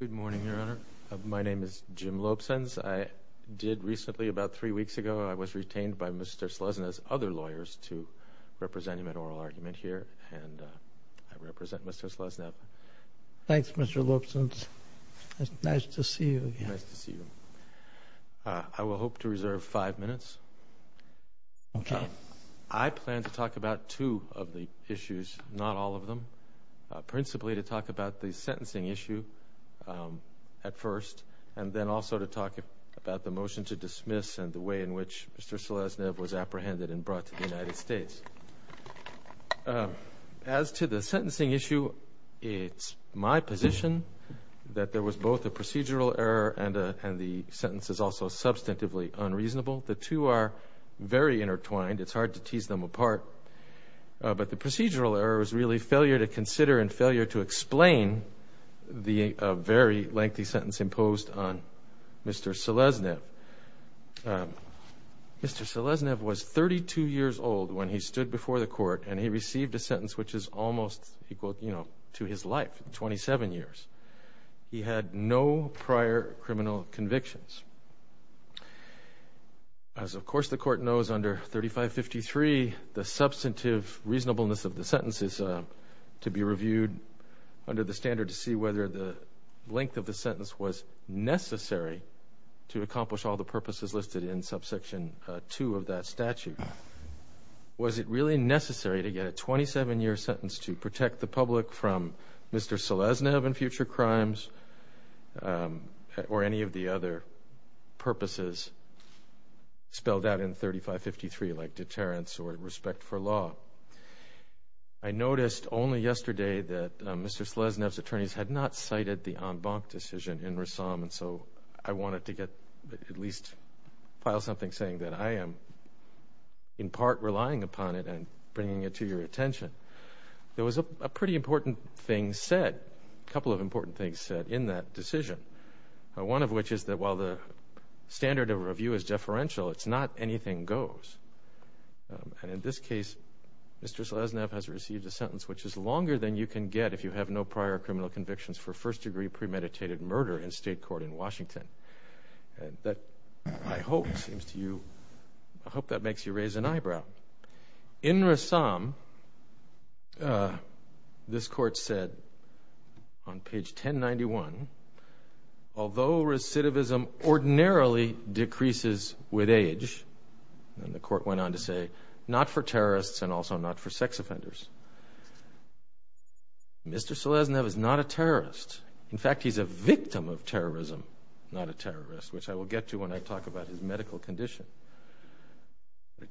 Good morning, Your Honor. My name is Jim Lopesenz. I did recently, about three weeks ago, I was retained by Mr. Seleznev's other lawyers to represent him in oral argument here, and I represent Mr. Seleznev. Thanks, Mr. Lopesenz. It's nice to see you again. Nice to see you. I will hope to reserve five minutes. Okay. Now, I plan to talk about two of the issues, not all of them, principally to talk about the sentencing issue at first, and then also to talk about the motion to dismiss and the way in which Mr. Seleznev was apprehended and brought to the United States. As to the sentencing issue, it's my position that there was both a procedural error and the sentence is also substantively unreasonable. The two are very intertwined. It's hard to tease them apart, but the procedural error is really failure to consider and failure to explain the very lengthy sentence imposed on Mr. Seleznev. Mr. Seleznev was 32 years old when he stood before the court and he received a sentence which is almost equal to his life, 27 years. He had no prior criminal convictions. As of course, the court knows under 3553, the substantive reasonableness of the sentence is to be reviewed under the standard to see whether the length of the sentence was necessary to accomplish all the purposes listed in subsection 2 of that statute. Was it really necessary to get a 27-year sentence to protect the public from Mr. Seleznev and future crimes or any of the other purposes spelled out in 3553 like deterrence or respect for law? Well, I noticed only yesterday that Mr. Seleznev's attorneys had not cited the en banc decision in Ressam and so I wanted to at least file something saying that I am in part relying upon it and bringing it to your attention. There was a pretty important thing said, a couple of important things said in that decision, one of which is that while the standard of review is deferential, it's not anything goes. And in this case, Mr. Seleznev has received a sentence which is longer than you can get if you have no prior criminal convictions for first-degree premeditated murder in state court in Washington and that I hope seems to you, I hope that makes you raise an eyebrow. In Ressam, this court said on page 1091, although recidivism ordinarily decreases with age and the court went on to say, not for terrorists and also not for sex offenders. Mr. Seleznev is not a terrorist. In fact, he's a victim of terrorism, not a terrorist, which I will get to when I talk about his medical condition.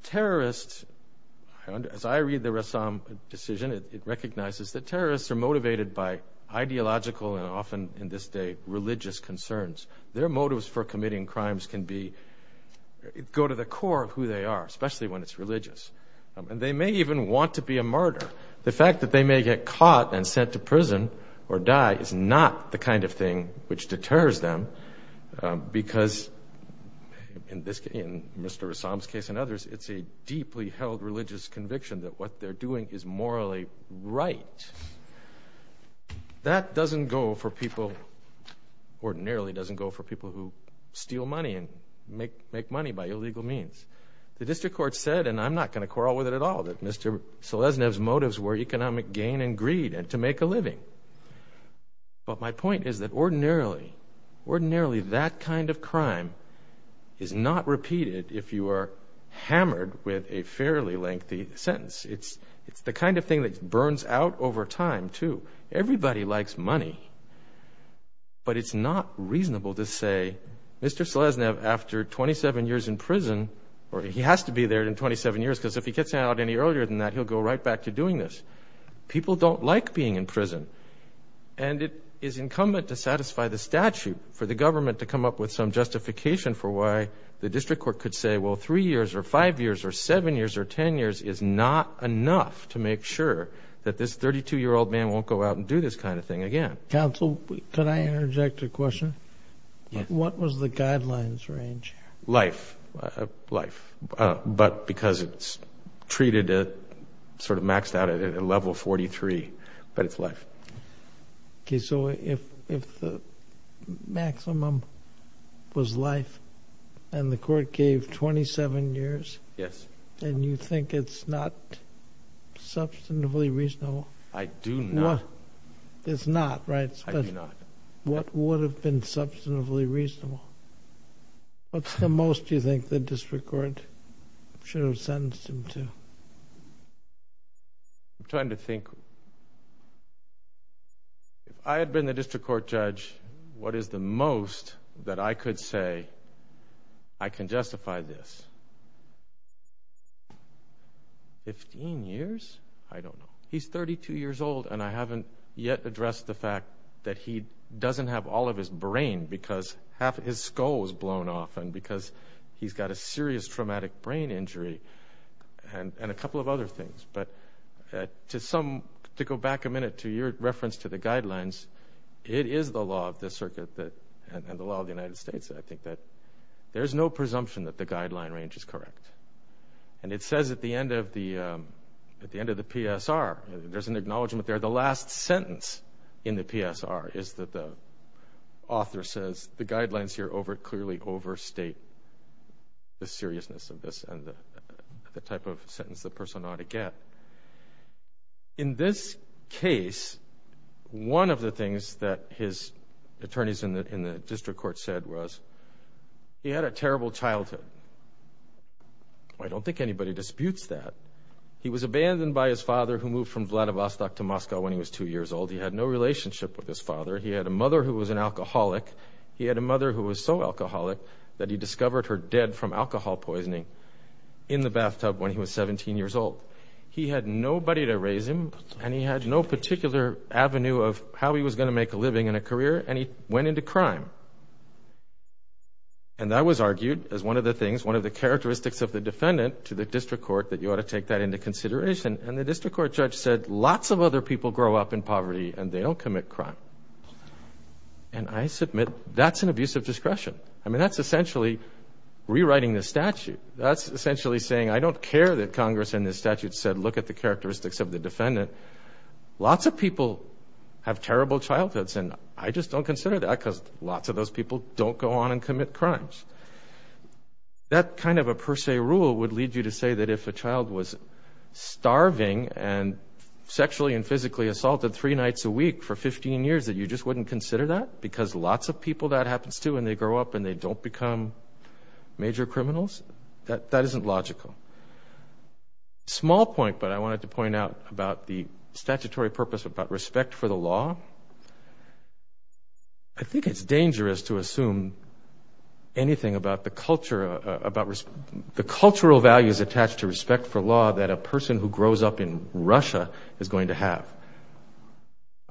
Terrorists, as I read the Ressam decision, it recognizes that terrorists are motivated by ideological and often in this day, religious concerns. Their motives for committing crimes can go to the core of who they are, especially when it's religious. And they may even want to be a murderer. The fact that they may get caught and sent to prison or die is not the kind of thing which deters them because in Mr. Ressam's case and others, it's a deeply held religious conviction that what they're doing is morally right. That doesn't go for people, ordinarily doesn't go for people who steal money and make money by illegal means. The district court said, and I'm not going to quarrel with it at all, that Mr. Seleznev's motives were economic gain and greed and to make a living. But my point is that ordinarily, ordinarily that kind of crime is not repeated if you are hammered with a fairly lengthy sentence. It's the kind of thing that burns out over time, too. Everybody likes money. But it's not reasonable to say, Mr. Seleznev, after 27 years in prison, or he has to be there in 27 years because if he gets out any earlier than that, he'll go right back to doing this. People don't like being in prison. And it is incumbent to satisfy the statute for the government to come up with some justification for why the district court could say, well, three years or five years or seven years or not, enough to make sure that this 32-year-old man won't go out and do this kind of thing again. Counsel, could I interject a question? What was the guidelines range? Life, life. But because it's treated, sort of maxed out at a level 43, but it's life. Okay. So if the maximum was life, and the court gave 27 years, and you think it's not substantively reasonable. I do not. It's not, right? I do not. What would have been substantively reasonable? What's the most you think the district court should have sentenced him to? I'm trying to think. If I had been the district court judge, what is the most that I could say I can justify this? Fifteen years? I don't know. He's 32 years old, and I haven't yet addressed the fact that he doesn't have all of his brain because half of his skull was blown off and because he's got a serious traumatic brain injury and a couple of other things. But to go back a minute to your reference to the guidelines, it is the law of the circuit and the law of the United States, I think, that there's no presumption that the guideline range is correct. And it says at the end of the PSR, there's an acknowledgment there, the last sentence in the PSR is that the author says the guidelines here clearly overstate the seriousness of this and the type of sentence the person ought to get. In this case, one of the things that his attorneys in the district court said was, he had a terrible childhood. I don't think anybody disputes that. He was abandoned by his father who moved from Vladivostok to Moscow when he was two years old. He had no relationship with his father. He had a mother who was an alcoholic. He had a mother who was so alcoholic that he discovered her dead from alcohol poisoning in the bathtub when he was 17 years old. He had nobody to raise him and he had no particular avenue of how he was going to make a living in a career and he went into crime. And that was argued as one of the things, one of the characteristics of the defendant to the district court that you ought to take that into consideration. And the district court judge said, lots of other people grow up in poverty and they don't commit crime. And I submit, that's an abuse of discretion. I mean, that's essentially rewriting the statute. That's essentially saying, I don't care that Congress in this statute said, look at the characteristics of the defendant. Lots of people have terrible childhoods and I just don't consider that because lots of those people don't go on and commit crimes. That kind of a per se rule would lead you to say that if a child was starving and sexually and physically assaulted three nights a week for 15 years that you just wouldn't consider that because lots of people that happens too and they grow up and they don't become major criminals. That isn't logical. Small point, but I wanted to point out about the statutory purpose about respect for the law. I think it's dangerous to assume anything about the culture, about the cultural values attached to respect for law that a person who grows up in Russia is going to have.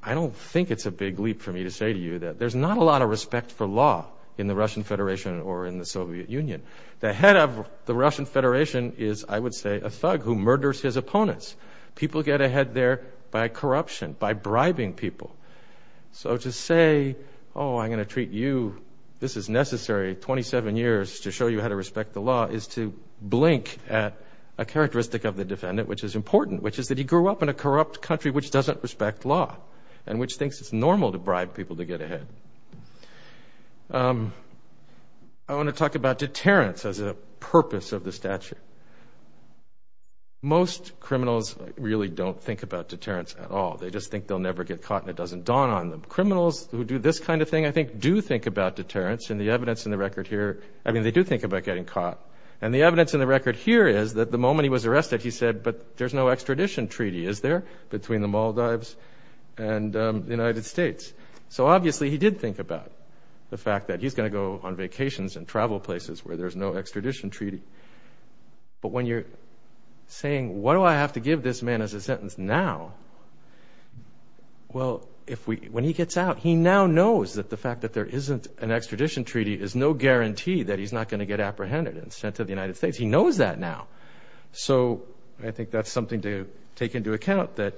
I don't think it's a big leap for me to say to you that there's not a lot of respect for law in the Russian Federation or in the Soviet Union. The head of the Russian Federation is, I would say, a thug who murders his opponents. People get ahead there by corruption, by bribing people. So to say, oh, I'm going to treat you, this is necessary, 27 years to show you how to a characteristic of the defendant, which is important, which is that he grew up in a corrupt country which doesn't respect law and which thinks it's normal to bribe people to get ahead. I want to talk about deterrence as a purpose of the statute. Most criminals really don't think about deterrence at all. They just think they'll never get caught and it doesn't dawn on them. Criminals who do this kind of thing, I think, do think about deterrence and the evidence in the record here, I mean, they do think about getting caught. And the evidence in the record here is that the moment he was arrested, he said, but there's no extradition treaty, is there, between the Maldives and the United States? So obviously, he did think about the fact that he's going to go on vacations and travel places where there's no extradition treaty. But when you're saying, what do I have to give this man as a sentence now, well, when he gets out, he now knows that the fact that there isn't an extradition treaty is no guarantee that he's not going to get apprehended and sent to the United States. He knows that now. So I think that's something to take into account, that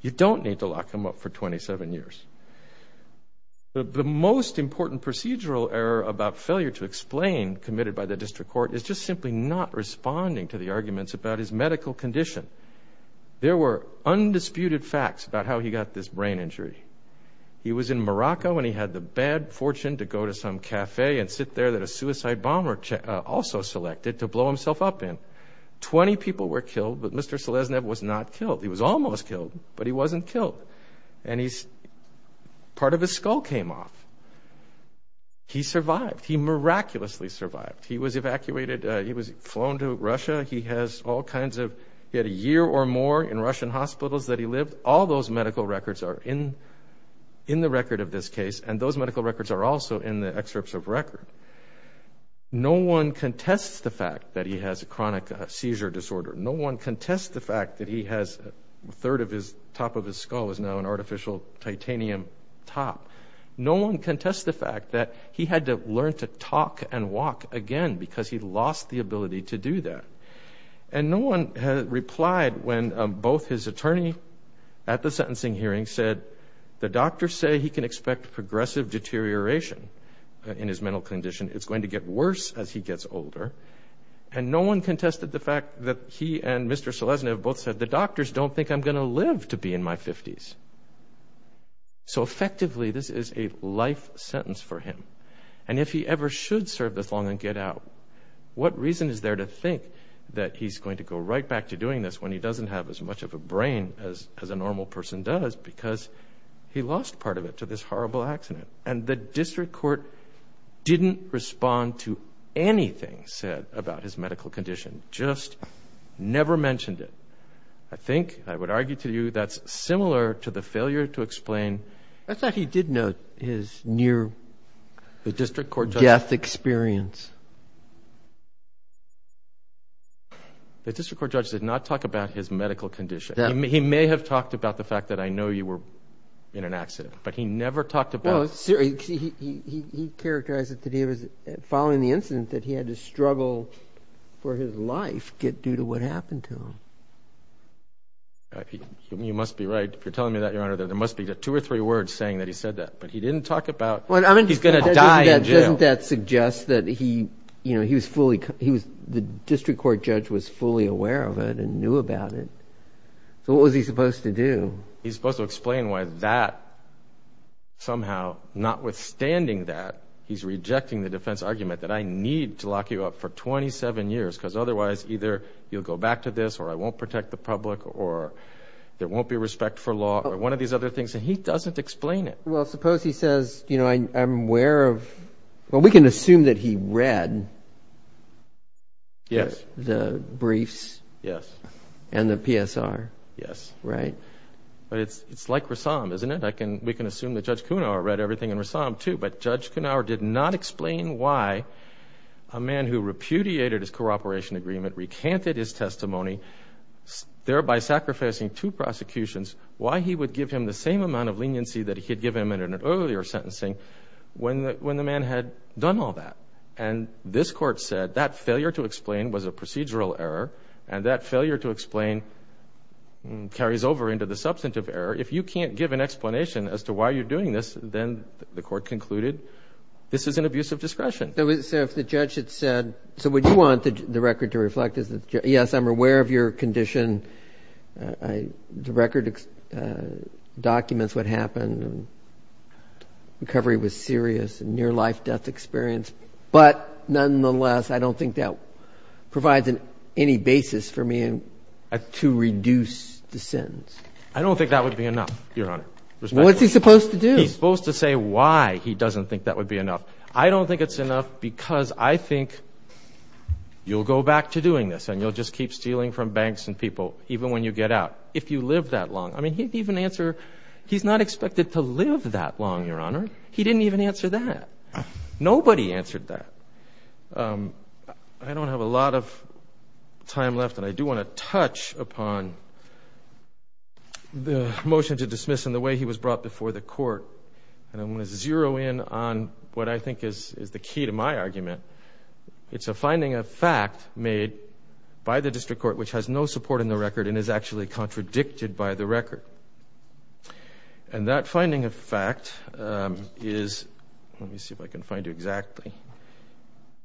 you don't need to lock him up for 27 years. The most important procedural error about failure to explain committed by the district court is just simply not responding to the arguments about his medical condition. There were undisputed facts about how he got this brain injury. He was in Morocco, and he had the bad fortune to go to some cafe and sit there that a suicide bomber also selected to blow himself up in. Twenty people were killed, but Mr. Seleznev was not killed. He was almost killed, but he wasn't killed. And part of his skull came off. He survived. He miraculously survived. He was evacuated. He was flown to Russia. He had a year or more in Russian hospitals that he lived. All those medical records are in the record of this case, and those medical records are also in the excerpts of record. No one contests the fact that he has a chronic seizure disorder. No one contests the fact that he has a third of his top of his skull is now an artificial titanium top. No one contests the fact that he had to learn to talk and walk again because he lost the ability to do that. And no one replied when both his attorney at the sentencing hearing said, the doctors say he can expect progressive deterioration in his mental condition. It's going to get worse as he gets older. And no one contested the fact that he and Mr. Seleznev both said, the doctors don't think I'm going to live to be in my 50s. So effectively, this is a life sentence for him. And if he ever should serve this long and get out, what reason is there to think that he's going to go right back to doing this when he doesn't have as much of a brain as a normal person does because he lost part of it to this horrible accident? And the district court didn't respond to anything said about his medical condition, just never mentioned it. I think, I would argue to you, that's similar to the failure to explain. I thought he did note his near death experience. The district court judge did not talk about his medical condition. He may have talked about the fact that I know you were in an accident, but he never talked about it. No, he characterized that following the incident that he had to struggle for his life due to what happened to him. You must be right. If you're telling me that, Your Honor, there must be two or three words saying that he said that. But he didn't talk about he's going to die in jail. Doesn't that suggest that the district court judge was fully aware of it and knew about it? So what was he supposed to do? He's supposed to explain why that somehow, notwithstanding that, he's rejecting the defense argument that I need to lock you up for 27 years because otherwise either you'll go back to this or I won't protect the public or there won't be respect for law or one of these other things. And he doesn't explain it. Well, suppose he says, you know, I'm aware of, well, we can assume that he read the briefs and the PSR, right? It's like Rassam, isn't it? We can assume that Judge Kunauer read everything in Rassam, too, but Judge Kunauer did not explain why a man who repudiated his cooperation agreement, recanted his testimony, thereby sacrificing two prosecutions, why he would give him the same amount of leniency that he had given him in an earlier sentencing when the man had done all that. And this court said that failure to explain was a procedural error and that failure to explain carries over into the substantive error. If you can't give an explanation as to why you're doing this, then the court concluded this is an abuse of discretion. So if the judge had said, so what you want the record to reflect is that, yes, I'm aware of your condition, the record documents what happened, recovery was serious, near-life death experience. But nonetheless, I don't think that provides any basis for me to reduce the sentence. I don't think that would be enough, Your Honor. Respectfully. What's he supposed to do? He's supposed to say why he doesn't think that would be enough. I don't think it's enough because I think you'll go back to doing this and you'll just keep stealing from banks and people, even when you get out, if you live that long. I mean, he didn't even answer. He's not expected to live that long, Your Honor. He didn't even answer that. Nobody answered that. I don't have a lot of time left, and I do want to touch upon the motion to dismiss and the way he was brought before the court, and I want to zero in on what I think is the key to my argument. It's a finding of fact made by the district court, which has no support in the record and is actually contradicted by the record. And that finding of fact is, let me see if I can find it exactly,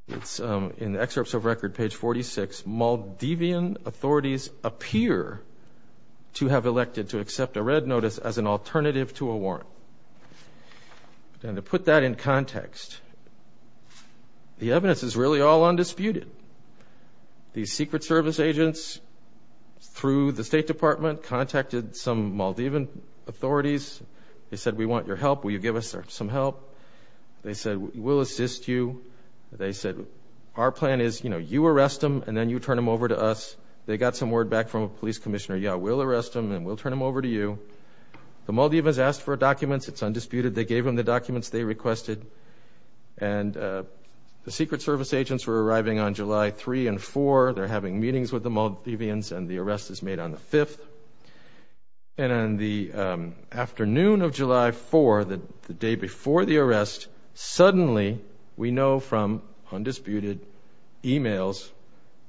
it's in the excerpts of record, page 46, Maldivian authorities appear to have elected to accept a red notice as an alternative to a warrant. And to put that in context, the evidence is really all undisputed. These Secret Service agents, through the State Department, contacted some Maldivian authorities. They said, we want your help. Will you give us some help? They said, we'll assist you. They said, our plan is, you know, you arrest him and then you turn him over to us. They got some word back from a police commissioner, yeah, we'll arrest him and we'll turn him over to you. The Maldivians asked for documents. It's undisputed. They gave them the documents they requested. And the Secret Service agents were arriving on July 3 and 4. They're having meetings with the Maldivians and the arrest is made on the 5th. And on the afternoon of July 4, the day before the arrest, suddenly we know from undisputed emails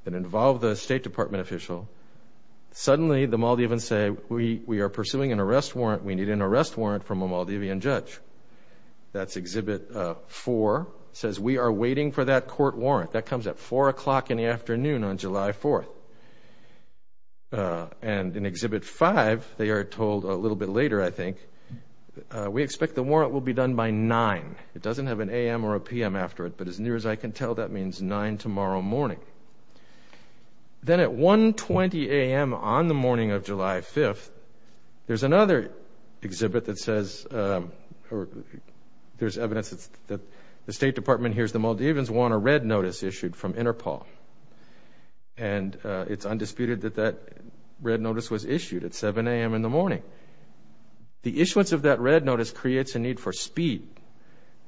that involve the State Department official, suddenly the Maldivians say, we are pursuing an arrest warrant. We need an arrest warrant from a Maldivian judge. That's Exhibit 4. It says, we are waiting for that court warrant. That comes at 4 o'clock in the afternoon on July 4. And in Exhibit 5, they are told a little bit later, I think, we expect the warrant will be done by 9. It doesn't have an a.m. or a p.m. after it, but as near as I can tell, that means 9 tomorrow morning. Then at 1.20 a.m. on the morning of July 5, there's another exhibit that says, there's evidence that the State Department hears the Maldivians want a red notice issued from Interpol. And it's undisputed that that red notice was issued at 7 a.m. in the morning. So the issuance of that red notice creates a need for speed,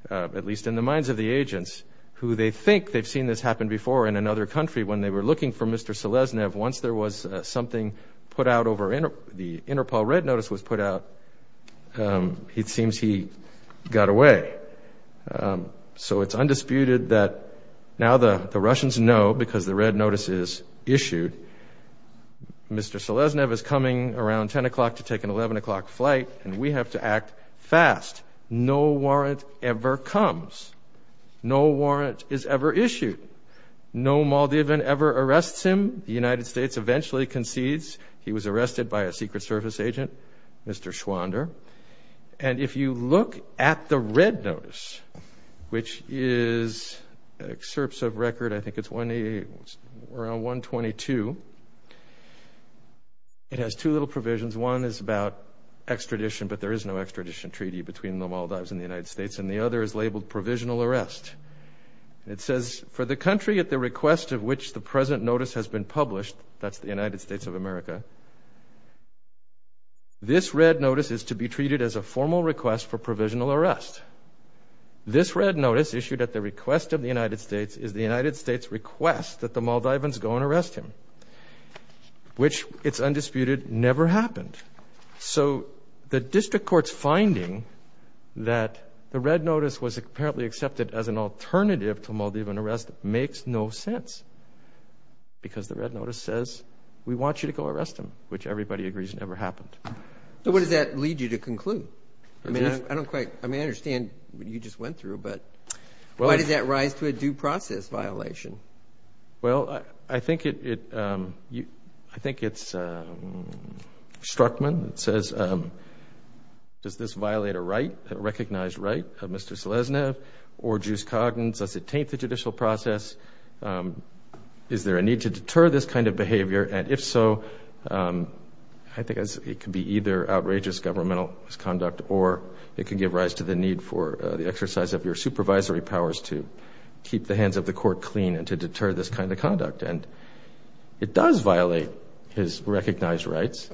at least in the minds of the agents, who they think they've seen this happen before in another country when they were looking for Mr. Seleznev. Once there was something put out over Interpol, the Interpol red notice was put out, it seems he got away. So it's undisputed that now the Russians know, because the red notice is issued, Mr. Seleznev is coming around 10 o'clock to take an 11 o'clock flight, and we have to act fast. No warrant ever comes. No warrant is ever issued. No Maldivian ever arrests him. The United States eventually concedes. He was arrested by a Secret Service agent, Mr. Schwander. And if you look at the red notice, which is excerpts of record, I think it's 122, it has two little provisions. One is about extradition, but there is no extradition treaty between the Maldives and the United States. And the other is labeled provisional arrest. It says, for the country at the request of which the present notice has been published, that's the United States of America, this red notice is to be treated as a formal request for provisional arrest. This red notice issued at the request of the United States is the United States' request that the Maldivians go and arrest him, which, it's undisputed, never happened. So the district court's finding that the red notice was apparently accepted as an alternative to Maldivian arrest makes no sense, because the red notice says, we want you to go arrest him, which everybody agrees never happened. So what does that lead you to conclude? I mean, I don't quite, I mean, I understand what you just went through, but why did that rise to a due process violation? Well, I think it, I think it's Struttman that says, does this violate a right, a recognized right of Mr. Seleznev or Juice Coggins? Does it taint the judicial process? Is there a need to deter this kind of behavior? And if so, I think it could be either outrageous governmental misconduct or it could give rise to the need for the exercise of your supervisory powers to keep the hands of the court clean and to deter this kind of conduct. And it does violate his recognized rights.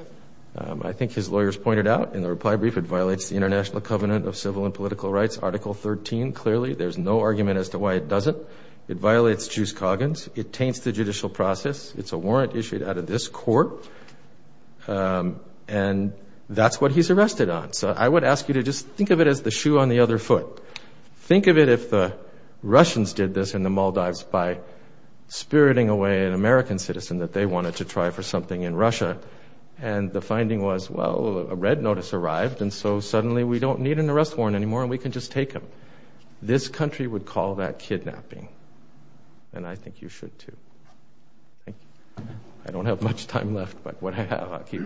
I think his lawyers pointed out in the reply brief, it violates the international covenant of civil and political rights, Article 13, clearly. There's no argument as to why it doesn't. It violates Juice Coggins. It taints the judicial process. It's a warrant issued out of this court. And that's what he's arrested on. So I would ask you to just think of it as the shoe on the other foot. Think of it if the Russians did this in the Maldives by spiriting away an American citizen that they wanted to try for something in Russia. And the finding was, well, a red notice arrived, and so suddenly we don't need an arrest warrant anymore and we can just take him. This country would call that kidnapping. And I think you should, too. I don't have much time left, but what I have, I'll keep.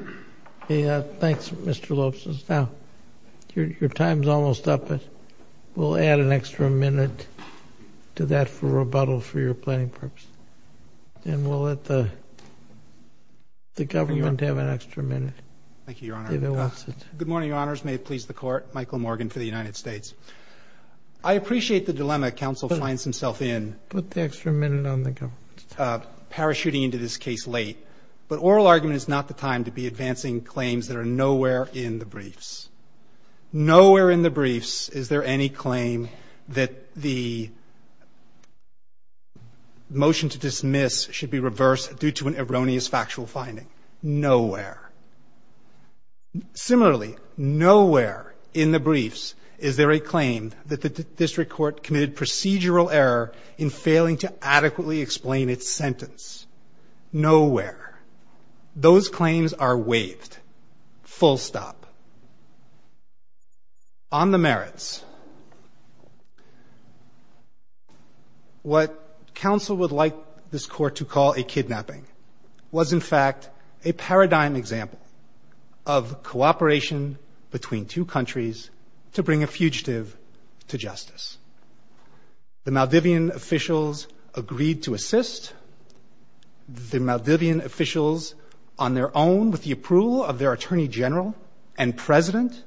Thanks, Mr. Lobson. Now, your time's almost up, but we'll add an extra minute to that for rebuttal for your planning purposes. And we'll let the government have an extra minute. Thank you, Your Honor. Good morning, Your Honors. May it please the Court. Michael Morgan for the United States. I appreciate the dilemma counsel finds himself in, parachuting into this case late. But oral argument is not the time to be advancing claims that are nowhere in the briefs. Nowhere in the briefs is there any claim that the motion to dismiss should be reversed due to an erroneous factual finding. Nowhere. Similarly, nowhere in the briefs is there a claim that the district court committed procedural error in failing to adequately explain its sentence. Nowhere. Those claims are waived. Full stop. On the merits, what counsel would like this Court to call a kidnapping was, in fact, a paradigm example of cooperation between two countries to bring a fugitive to justice. The Maldivian officials agreed to assist. The Maldivian officials, on their own, with the approval of their attorney general and president,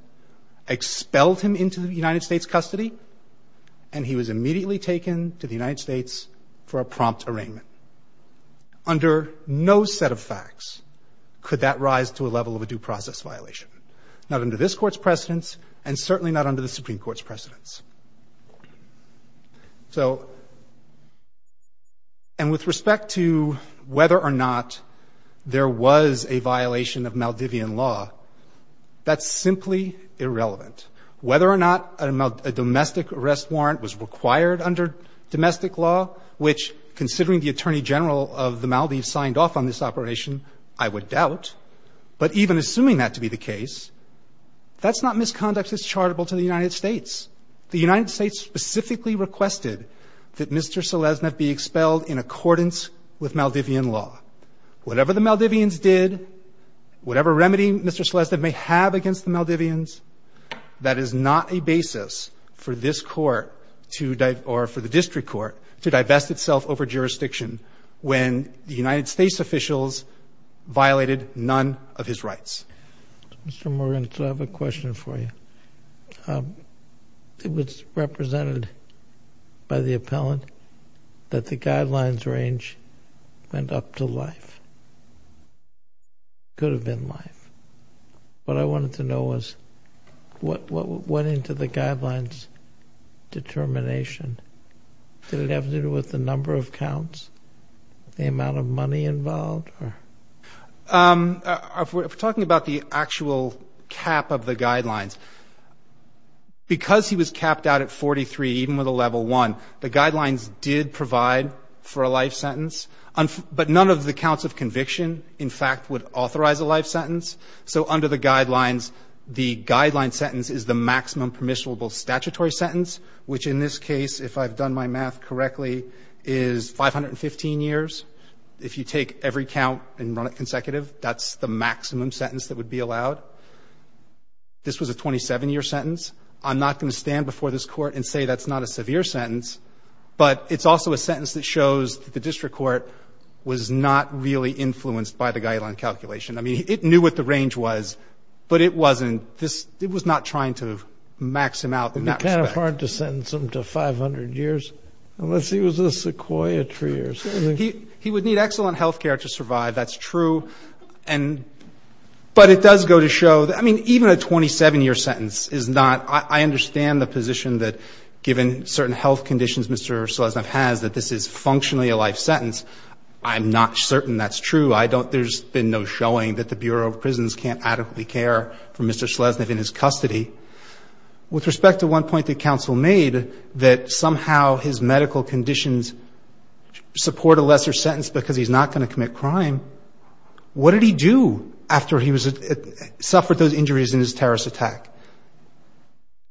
expelled him into the United States' custody, and he was immediately taken to the United States for a prompt arraignment. Under no set of facts could that rise to a level of a due process violation, not under this Court's precedence and certainly not under the Supreme Court's precedence. So, and with respect to whether or not there was a violation of Maldivian law, that's simply irrelevant. Whether or not a domestic arrest warrant was required under domestic law, which, considering the attorney general of the Maldives signed off on this operation, I would doubt, but even assuming that to be the case, that's not misconduct that's charitable to the United States. The United States specifically requested that Mr. Seleznev be expelled in accordance with Maldivian law. Whatever the Maldivians did, whatever remedy Mr. Seleznev may have against the Maldivians, that is not a basis for this Court to, or for the District Court to divest itself over jurisdiction when the United States officials violated none of his rights. Mr. Morgan, I have a question for you. It was represented by the appellant that the guidelines range went up to life. Could have been life. What I wanted to know was what went into the guidelines determination? Did it have to do with the number of counts? The amount of money involved? We're talking about the actual cap of the guidelines. Because he was capped out at 43, even with a level 1, the guidelines did provide for a life sentence, but none of the counts of conviction, in fact, would authorize a life sentence. So under the guidelines, the guideline sentence is the maximum permissible statutory sentence, which in this case, if I've done my math correctly, is 515 years. If you take every count and run it consecutive, that's the maximum sentence that would be allowed. This was a 27-year sentence. I'm not going to stand before this Court and say that's not a severe sentence, but it's also a sentence that shows that the District Court was not really influenced by the guideline calculation. I mean, it knew what the range was, but it wasn't. It was not trying to max him out in that respect. Would it be kind of hard to sentence him to 500 years unless he was a sequoia tree or something? He would need excellent health care to survive. That's true. But it does go to show, I mean, even a 27-year sentence is not – I understand the position that given certain health conditions Mr. Sleznev has, that this is functionally a life sentence. I'm not certain that's true. There's been no showing that the Bureau of Prisons can't adequately care for Mr. Sleznev in his custody. With respect to one point that counsel made, that somehow his medical conditions support a lesser sentence because he's not going to commit crime, what did he do after he suffered those injuries in his terrorist attack?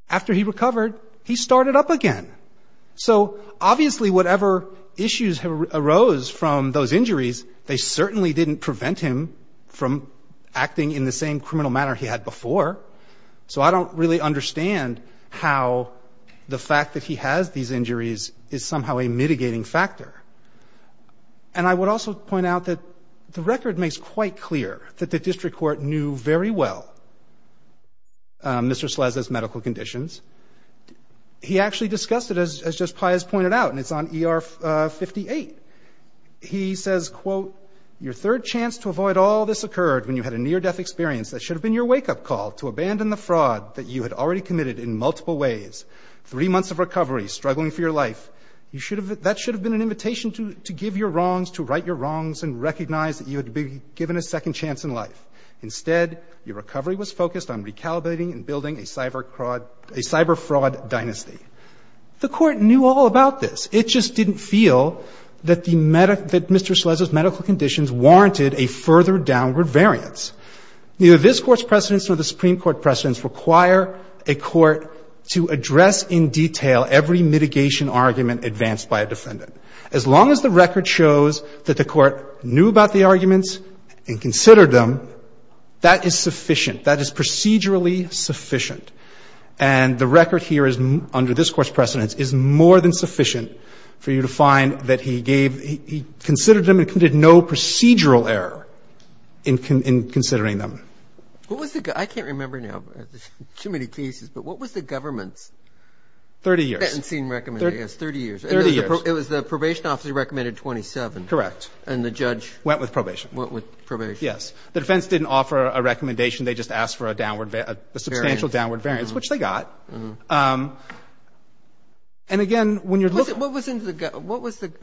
After he recovered, he started up again. So obviously whatever issues arose from those injuries, they certainly didn't prevent him from acting in the same criminal manner he had before. So I don't really understand how the fact that he has these injuries is somehow a mitigating factor. And I would also point out that the record makes quite clear that the district court knew very well Mr. Sleznev's medical conditions. He actually discussed it, as just Pius pointed out, and it's on ER 58. He says, quote, Your third chance to avoid all this occurred when you had a near-death experience that should have been your wake-up call to abandon the fraud that you had already committed in multiple ways. Three months of recovery, struggling for your life. That should have been an invitation to give your wrongs, to right your wrongs and recognize that you had been given a second chance in life. Instead, your recovery was focused on recalibrating and building a cyber-fraud dynasty. The court knew all about this. It just didn't feel that Mr. Sleznev's medical conditions warranted a further downward variance. Neither this Court's precedents nor the Supreme Court precedents require a court to address in detail every mitigation argument advanced by a defendant. As long as the record shows that the court knew about the arguments and considered them, that is sufficient. That is procedurally sufficient. And the record here is, under this Court's precedents, is more than sufficient for you to find that he gave, he considered them and committed no procedural error in considering them. I can't remember now. Too many cases. But what was the government's? 30 years. 30 years. It was the probation office that recommended 27. Correct. And the judge? Went with probation. Went with probation. Yes. The defense didn't offer a recommendation. They just asked for a substantial downward variance, which they got. And again, when you're looking. What was in the?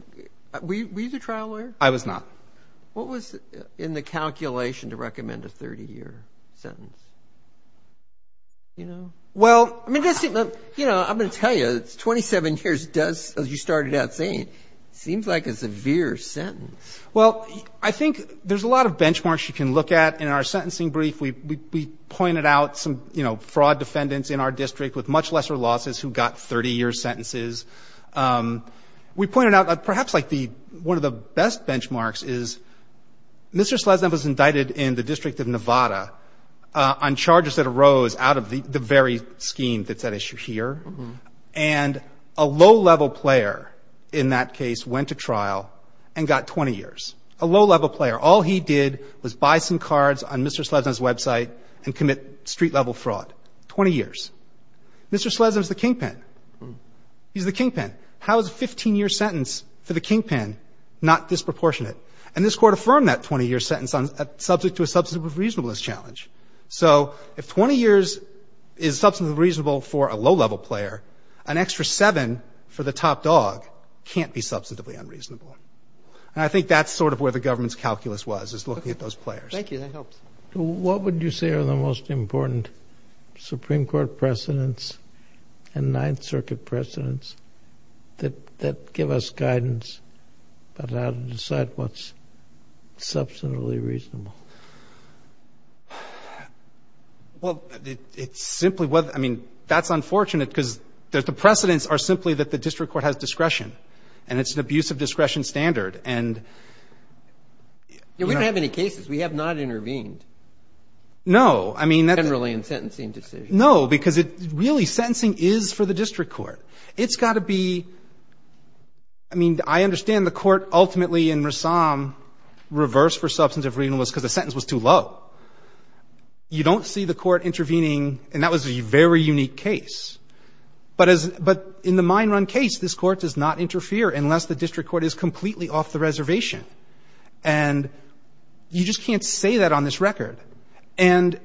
Were you the trial lawyer? I was not. What was in the calculation to recommend a 30-year sentence? You know? Well. You know, I'm going to tell you, 27 years does, as you started out saying, seems like a severe sentence. Well, I think there's a lot of benchmarks you can look at in our sentencing brief. We pointed out some, you know, fraud defendants in our district with much lesser losses who got 30-year sentences. We pointed out, perhaps like the, one of the best benchmarks is Mr. Slezna was indicted in the District of Nevada on charges that arose out of the very scheme that's at issue here. And a low-level player in that case went to trial and got 20 years. A low-level player. All he did was buy some cards on Mr. Slezna's website and commit street-level fraud. 20 years. Mr. Slezna's the kingpin. He's the kingpin. How is a 15-year sentence for the kingpin not disproportionate? And this Court affirmed that 20-year sentence on, subject to a substantive reasonableness challenge. So if 20 years is substantively reasonable for a low-level player, an extra seven for the top dog can't be substantively unreasonable. And I think that's sort of where the government's calculus was, is looking at those players. Thank you. That helps. What would you say are the most important Supreme Court precedents and Ninth Circuit precedents that give us guidance about how to decide what's substantively reasonable? Well, it's simply, I mean, that's unfortunate because the precedents are simply that the district court has discretion. And it's an abuse of discretion standard. We don't have any cases. We have not intervened. No. Generally in sentencing decisions. No. Because really, sentencing is for the district court. It's got to be, I mean, I understand the court ultimately in Rassam reversed for substantive reasonableness because the sentence was too low. You don't see the court intervening, and that was a very unique case. But in the mine run case, this court does not interfere unless the district court is completely off the reservation. And you just can't say that on this record. And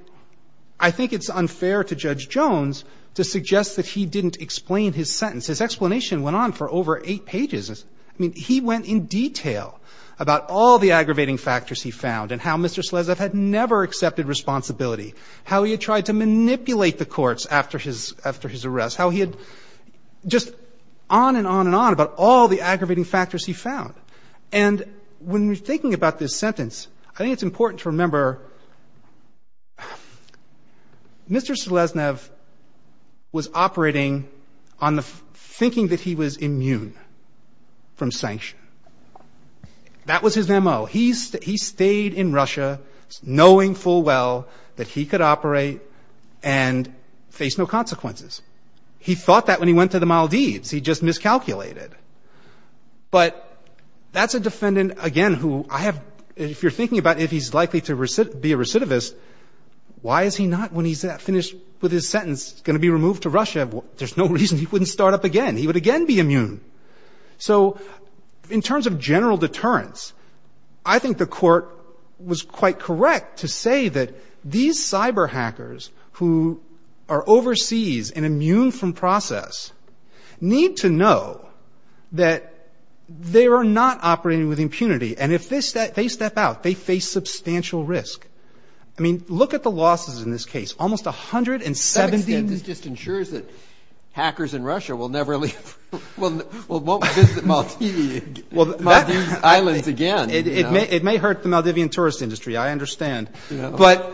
I think it's unfair to Judge Jones to suggest that he didn't explain his sentence. His explanation went on for over eight pages. I mean, he went in detail about all the aggravating factors he found and how Mr. Slezev had never accepted responsibility, how he had tried to manipulate the courts after his arrest, how he had just on and on and on about all the factors he found. And when you're thinking about this sentence, I think it's important to remember Mr. Slezev was operating on the thinking that he was immune from sanction. That was his M.O. He stayed in Russia knowing full well that he could operate and face no consequences. He thought that when he went to the Maldives. He just miscalculated. But that's a defendant, again, who I have, if you're thinking about if he's likely to be a recidivist, why is he not when he's finished with his sentence going to be removed to Russia? There's no reason he wouldn't start up again. He would again be immune. So in terms of general deterrence, I think the court was quite correct to say that these cyber hackers who are overseas and immune from process need to be tested. They need to know that they are not operating with impunity. And if they step out, they face substantial risk. I mean, look at the losses in this case. Almost 170. This just ensures that hackers in Russia will never leave. Won't visit Maldives again. It may hurt the Maldivian tourist industry. I understand. But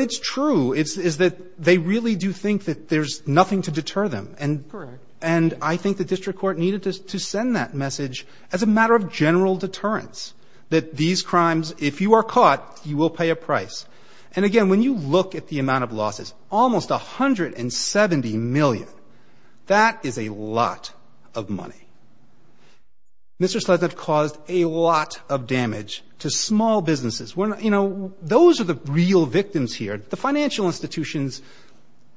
it's true. It's that they really do think that there's nothing to deter them. Correct. And I think the district court needed to send that message as a matter of general deterrence. That these crimes, if you are caught, you will pay a price. And again, when you look at the amount of losses, almost 170 million. That is a lot of money. Mr. Sleznev caused a lot of damage to small businesses. You know, those are the real victims here. The financial institutions,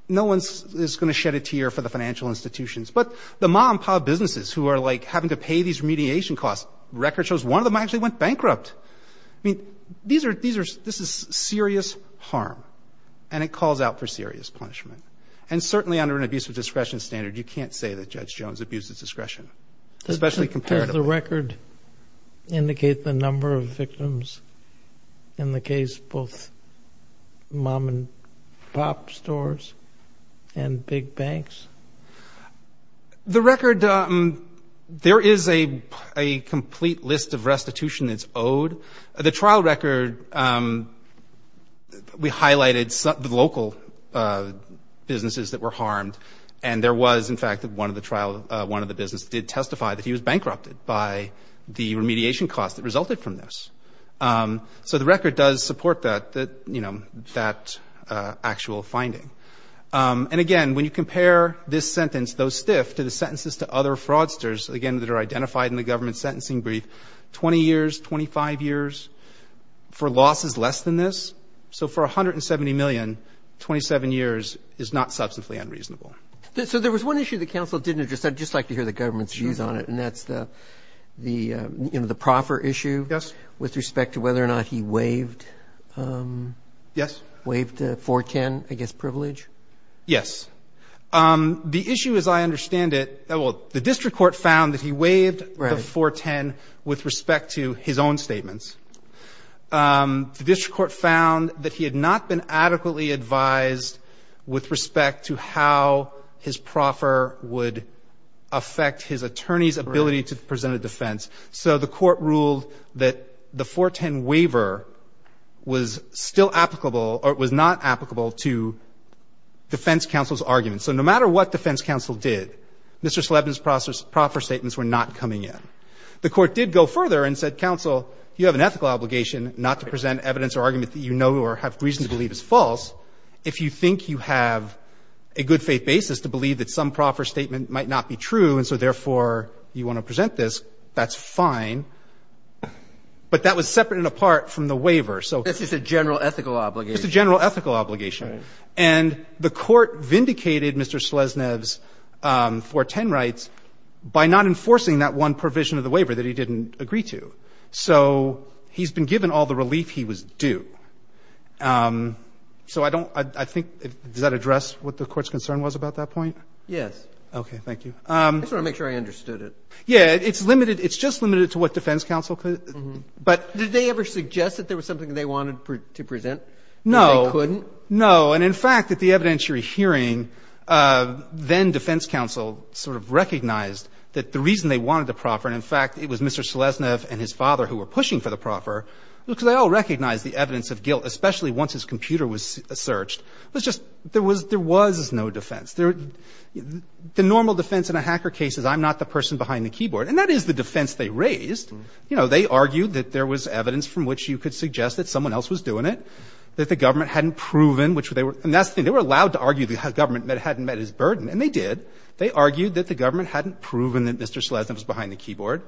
no one is going to shed a tear for the financial institutions. But the mom-and-pop businesses who are like having to pay these remediation costs. Record shows one of them actually went bankrupt. I mean, these are, this is serious harm. And it calls out for serious punishment. And certainly under an abuse of discretion standard, you can't say that Judge Jones abused his discretion. Especially compared to the record. Does the record indicate the number of victims in the case, both mom-and-pop stores and big banks? The record, there is a complete list of restitution that's owed. The trial record, we highlighted the local businesses that were harmed. And there was in fact one of the trial, one of the businesses that did testify that he was bankrupted by the remediation cost that resulted from this. So the record does support that, you know, that actual finding. Does the record indicate the number of victims in the case? There is a list of restitution that is owed. There is a separate list of coercion authorizations, m More than the 410,000,000 that they gave me. Again, it is not this sentence. Those stiff, the sentences to other fraudsters, again, that are identified in the government sentencing brief, 20 years, 25 years for losses less than this, so for $170 million, 27 years is steady money. I'm not sure what the government's views on it. And that's the, you know, the proffer issue. Yes. With respect to whether or not he waived. Yes. Waived the 410, I guess, privilege. Yes. The issue as I understand it, well, the district court found that he waived the 410 with respect to his own statements. The district court found that he had not been adequately advised with respect to how his proffer would affect his attorney's ability to present a defense. So the court ruled that the 410 waiver was still applicable, or it was not applicable to defense counsel's argument. So no matter what defense counsel did, Mr. Slebin's proffer statements were not coming in. The court did go further and said, counsel, you have an ethical obligation not to present evidence or argument that you know or have reason to believe is false. If you think you have a good faith basis to believe that some proffer statement might not be true and so, therefore, you want to present this, that's fine. But that was separate and apart from the waiver. So this is a general ethical obligation. It's a general ethical obligation. Right. And the court vindicated Mr. Sleznev's 410 rights by not enforcing that one provision of the waiver that he didn't agree to. So he's been given all the relief he was due. So I don't – I think – does that address what the Court's concern was about that point? Yes. Okay. Thank you. I just want to make sure I understood it. Yeah. It's limited. It's just limited to what defense counsel could. But did they ever suggest that there was something they wanted to present that they couldn't? No. No. And in fact, at the evidentiary hearing, then defense counsel sort of recognized that the reason they wanted the proffer, and in fact, it was Mr. Sleznev and his father who were pushing for the proffer, because they all recognized the evidence of guilt, especially once his computer was searched. It was just – there was no defense. The normal defense in a hacker case is I'm not the person behind the keyboard. And that is the defense they raised. You know, they argued that there was evidence from which you could suggest that someone else was doing it, that the government hadn't proven which they were – and that's the thing. They were allowed to argue the government hadn't met its burden, and they did. They argued that the government hadn't proven that Mr. Sleznev was behind the keyboard.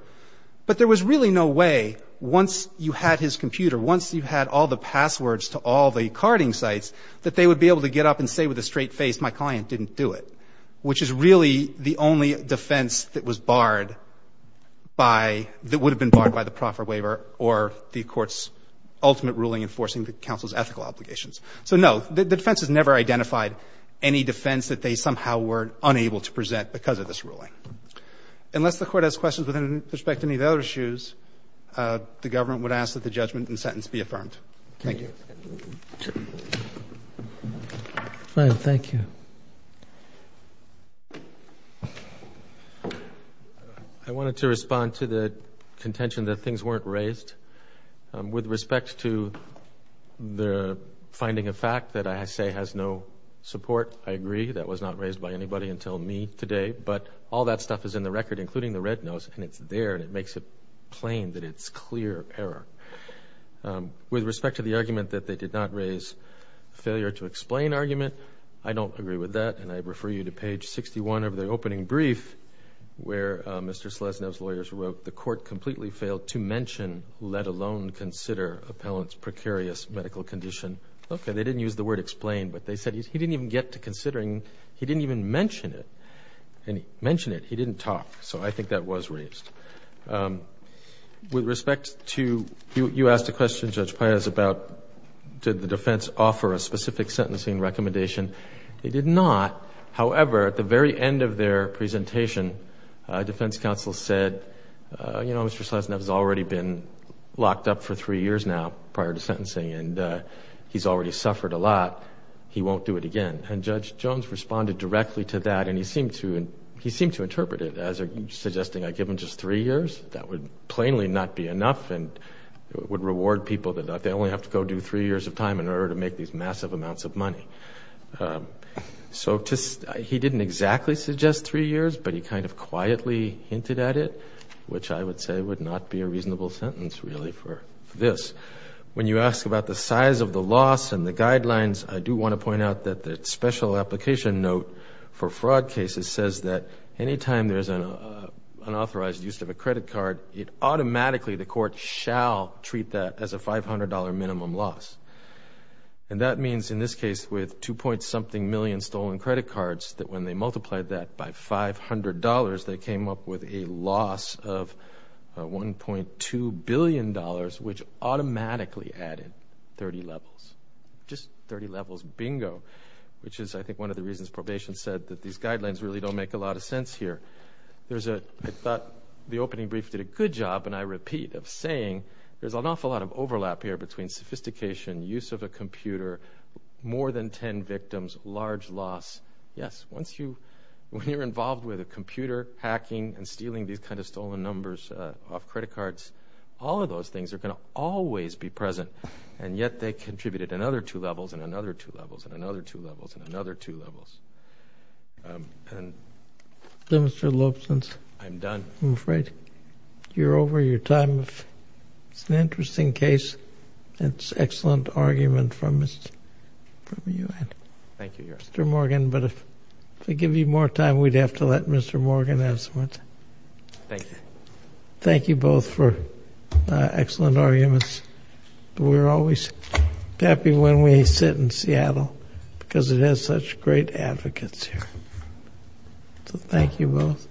But there was really no way, once you had his computer, once you had all the passwords to all the carding sites, that they would be able to get up and say with a straight face, my client didn't do it, which is really the only defense that was barred by – that would have been barred by the proffer waiver or the Court's ultimate ruling enforcing the counsel's ethical obligations. So, no, the defense has never identified any defense that they somehow were unable to present because of this ruling. Unless the Court has questions with respect to any of the other issues, the government would ask that the judgment and sentence be affirmed. Thank you. Thank you. I wanted to respond to the contention that things weren't raised. With respect to the finding of fact that I say has no support, I agree. That was not raised by anybody until me today. But all that stuff is in the record, including the red notes, and it's there, and it makes it plain that it's clear error. With respect to the argument that they did not raise failure to explain argument, I don't agree with that, and I refer you to page 61 of the opening brief where Mr. Sleznev's claim to mention, let alone consider, appellant's precarious medical condition. Okay. They didn't use the word explain, but they said he didn't even get to considering it. He didn't even mention it. And he mentioned it. He didn't talk. So, I think that was raised. With respect to, you asked a question, Judge Paez, about did the defense offer a specific sentencing recommendation. They did not. However, at the very end of their presentation, defense counsel said, you know, Mr. Sleznev has already been locked up for three years now prior to sentencing, and he's already suffered a lot. He won't do it again. And Judge Jones responded directly to that, and he seemed to interpret it as suggesting I give him just three years. That would plainly not be enough, and it would reward people that they only have to go do three years of time in order to make these massive amounts of money. So, he didn't exactly suggest three years, but he kind of quietly hinted at it, which I would say would not be a reasonable sentence, really, for this. When you ask about the size of the loss and the guidelines, I do want to point out that the special application note for fraud cases says that anytime there's an unauthorized use of a credit card, it automatically, the court shall treat that as a $500 minimum loss. And that means, in this case, with 2. something million stolen credit cards, that when they multiplied that by $500, they came up with a loss of $1.2 billion, which automatically added 30 levels. Just 30 levels. Bingo. Which is, I think, one of the reasons probation said that these guidelines really don't make a lot of sense here. I thought the opening brief did a good job, and I repeat, of saying there's an awful lot of overlap here between sophistication, use of a computer, more than 10 victims, large loss. Yes. Once you, when you're involved with a computer, hacking, and stealing these kind of stolen numbers off credit cards, all of those things are going to always be present, and yet they contributed another 2 levels, and another 2 levels, and another 2 levels, and another 2 levels. Mr. Lopez. I'm done. I'm afraid you're over your time. It's an excellent argument from you. Thank you, Your Honor. Thank you, Mr. Morgan, but if I give you more time, we'd have to let Mr. Morgan have some more time. Thank you. Thank you both for excellent arguments. We're always happy when we sit in Seattle, because it has such great advocates here. So thank you both,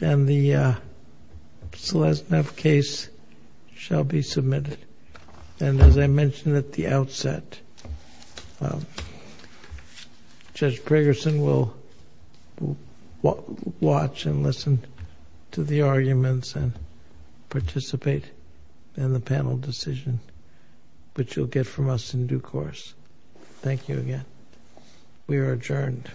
and the Selesneff case shall be submitted. And as I mentioned at the outset, Judge Gregerson will watch and listen to the arguments and participate in the panel decision, which you'll get from us in due course. Thank you again. We are adjourned.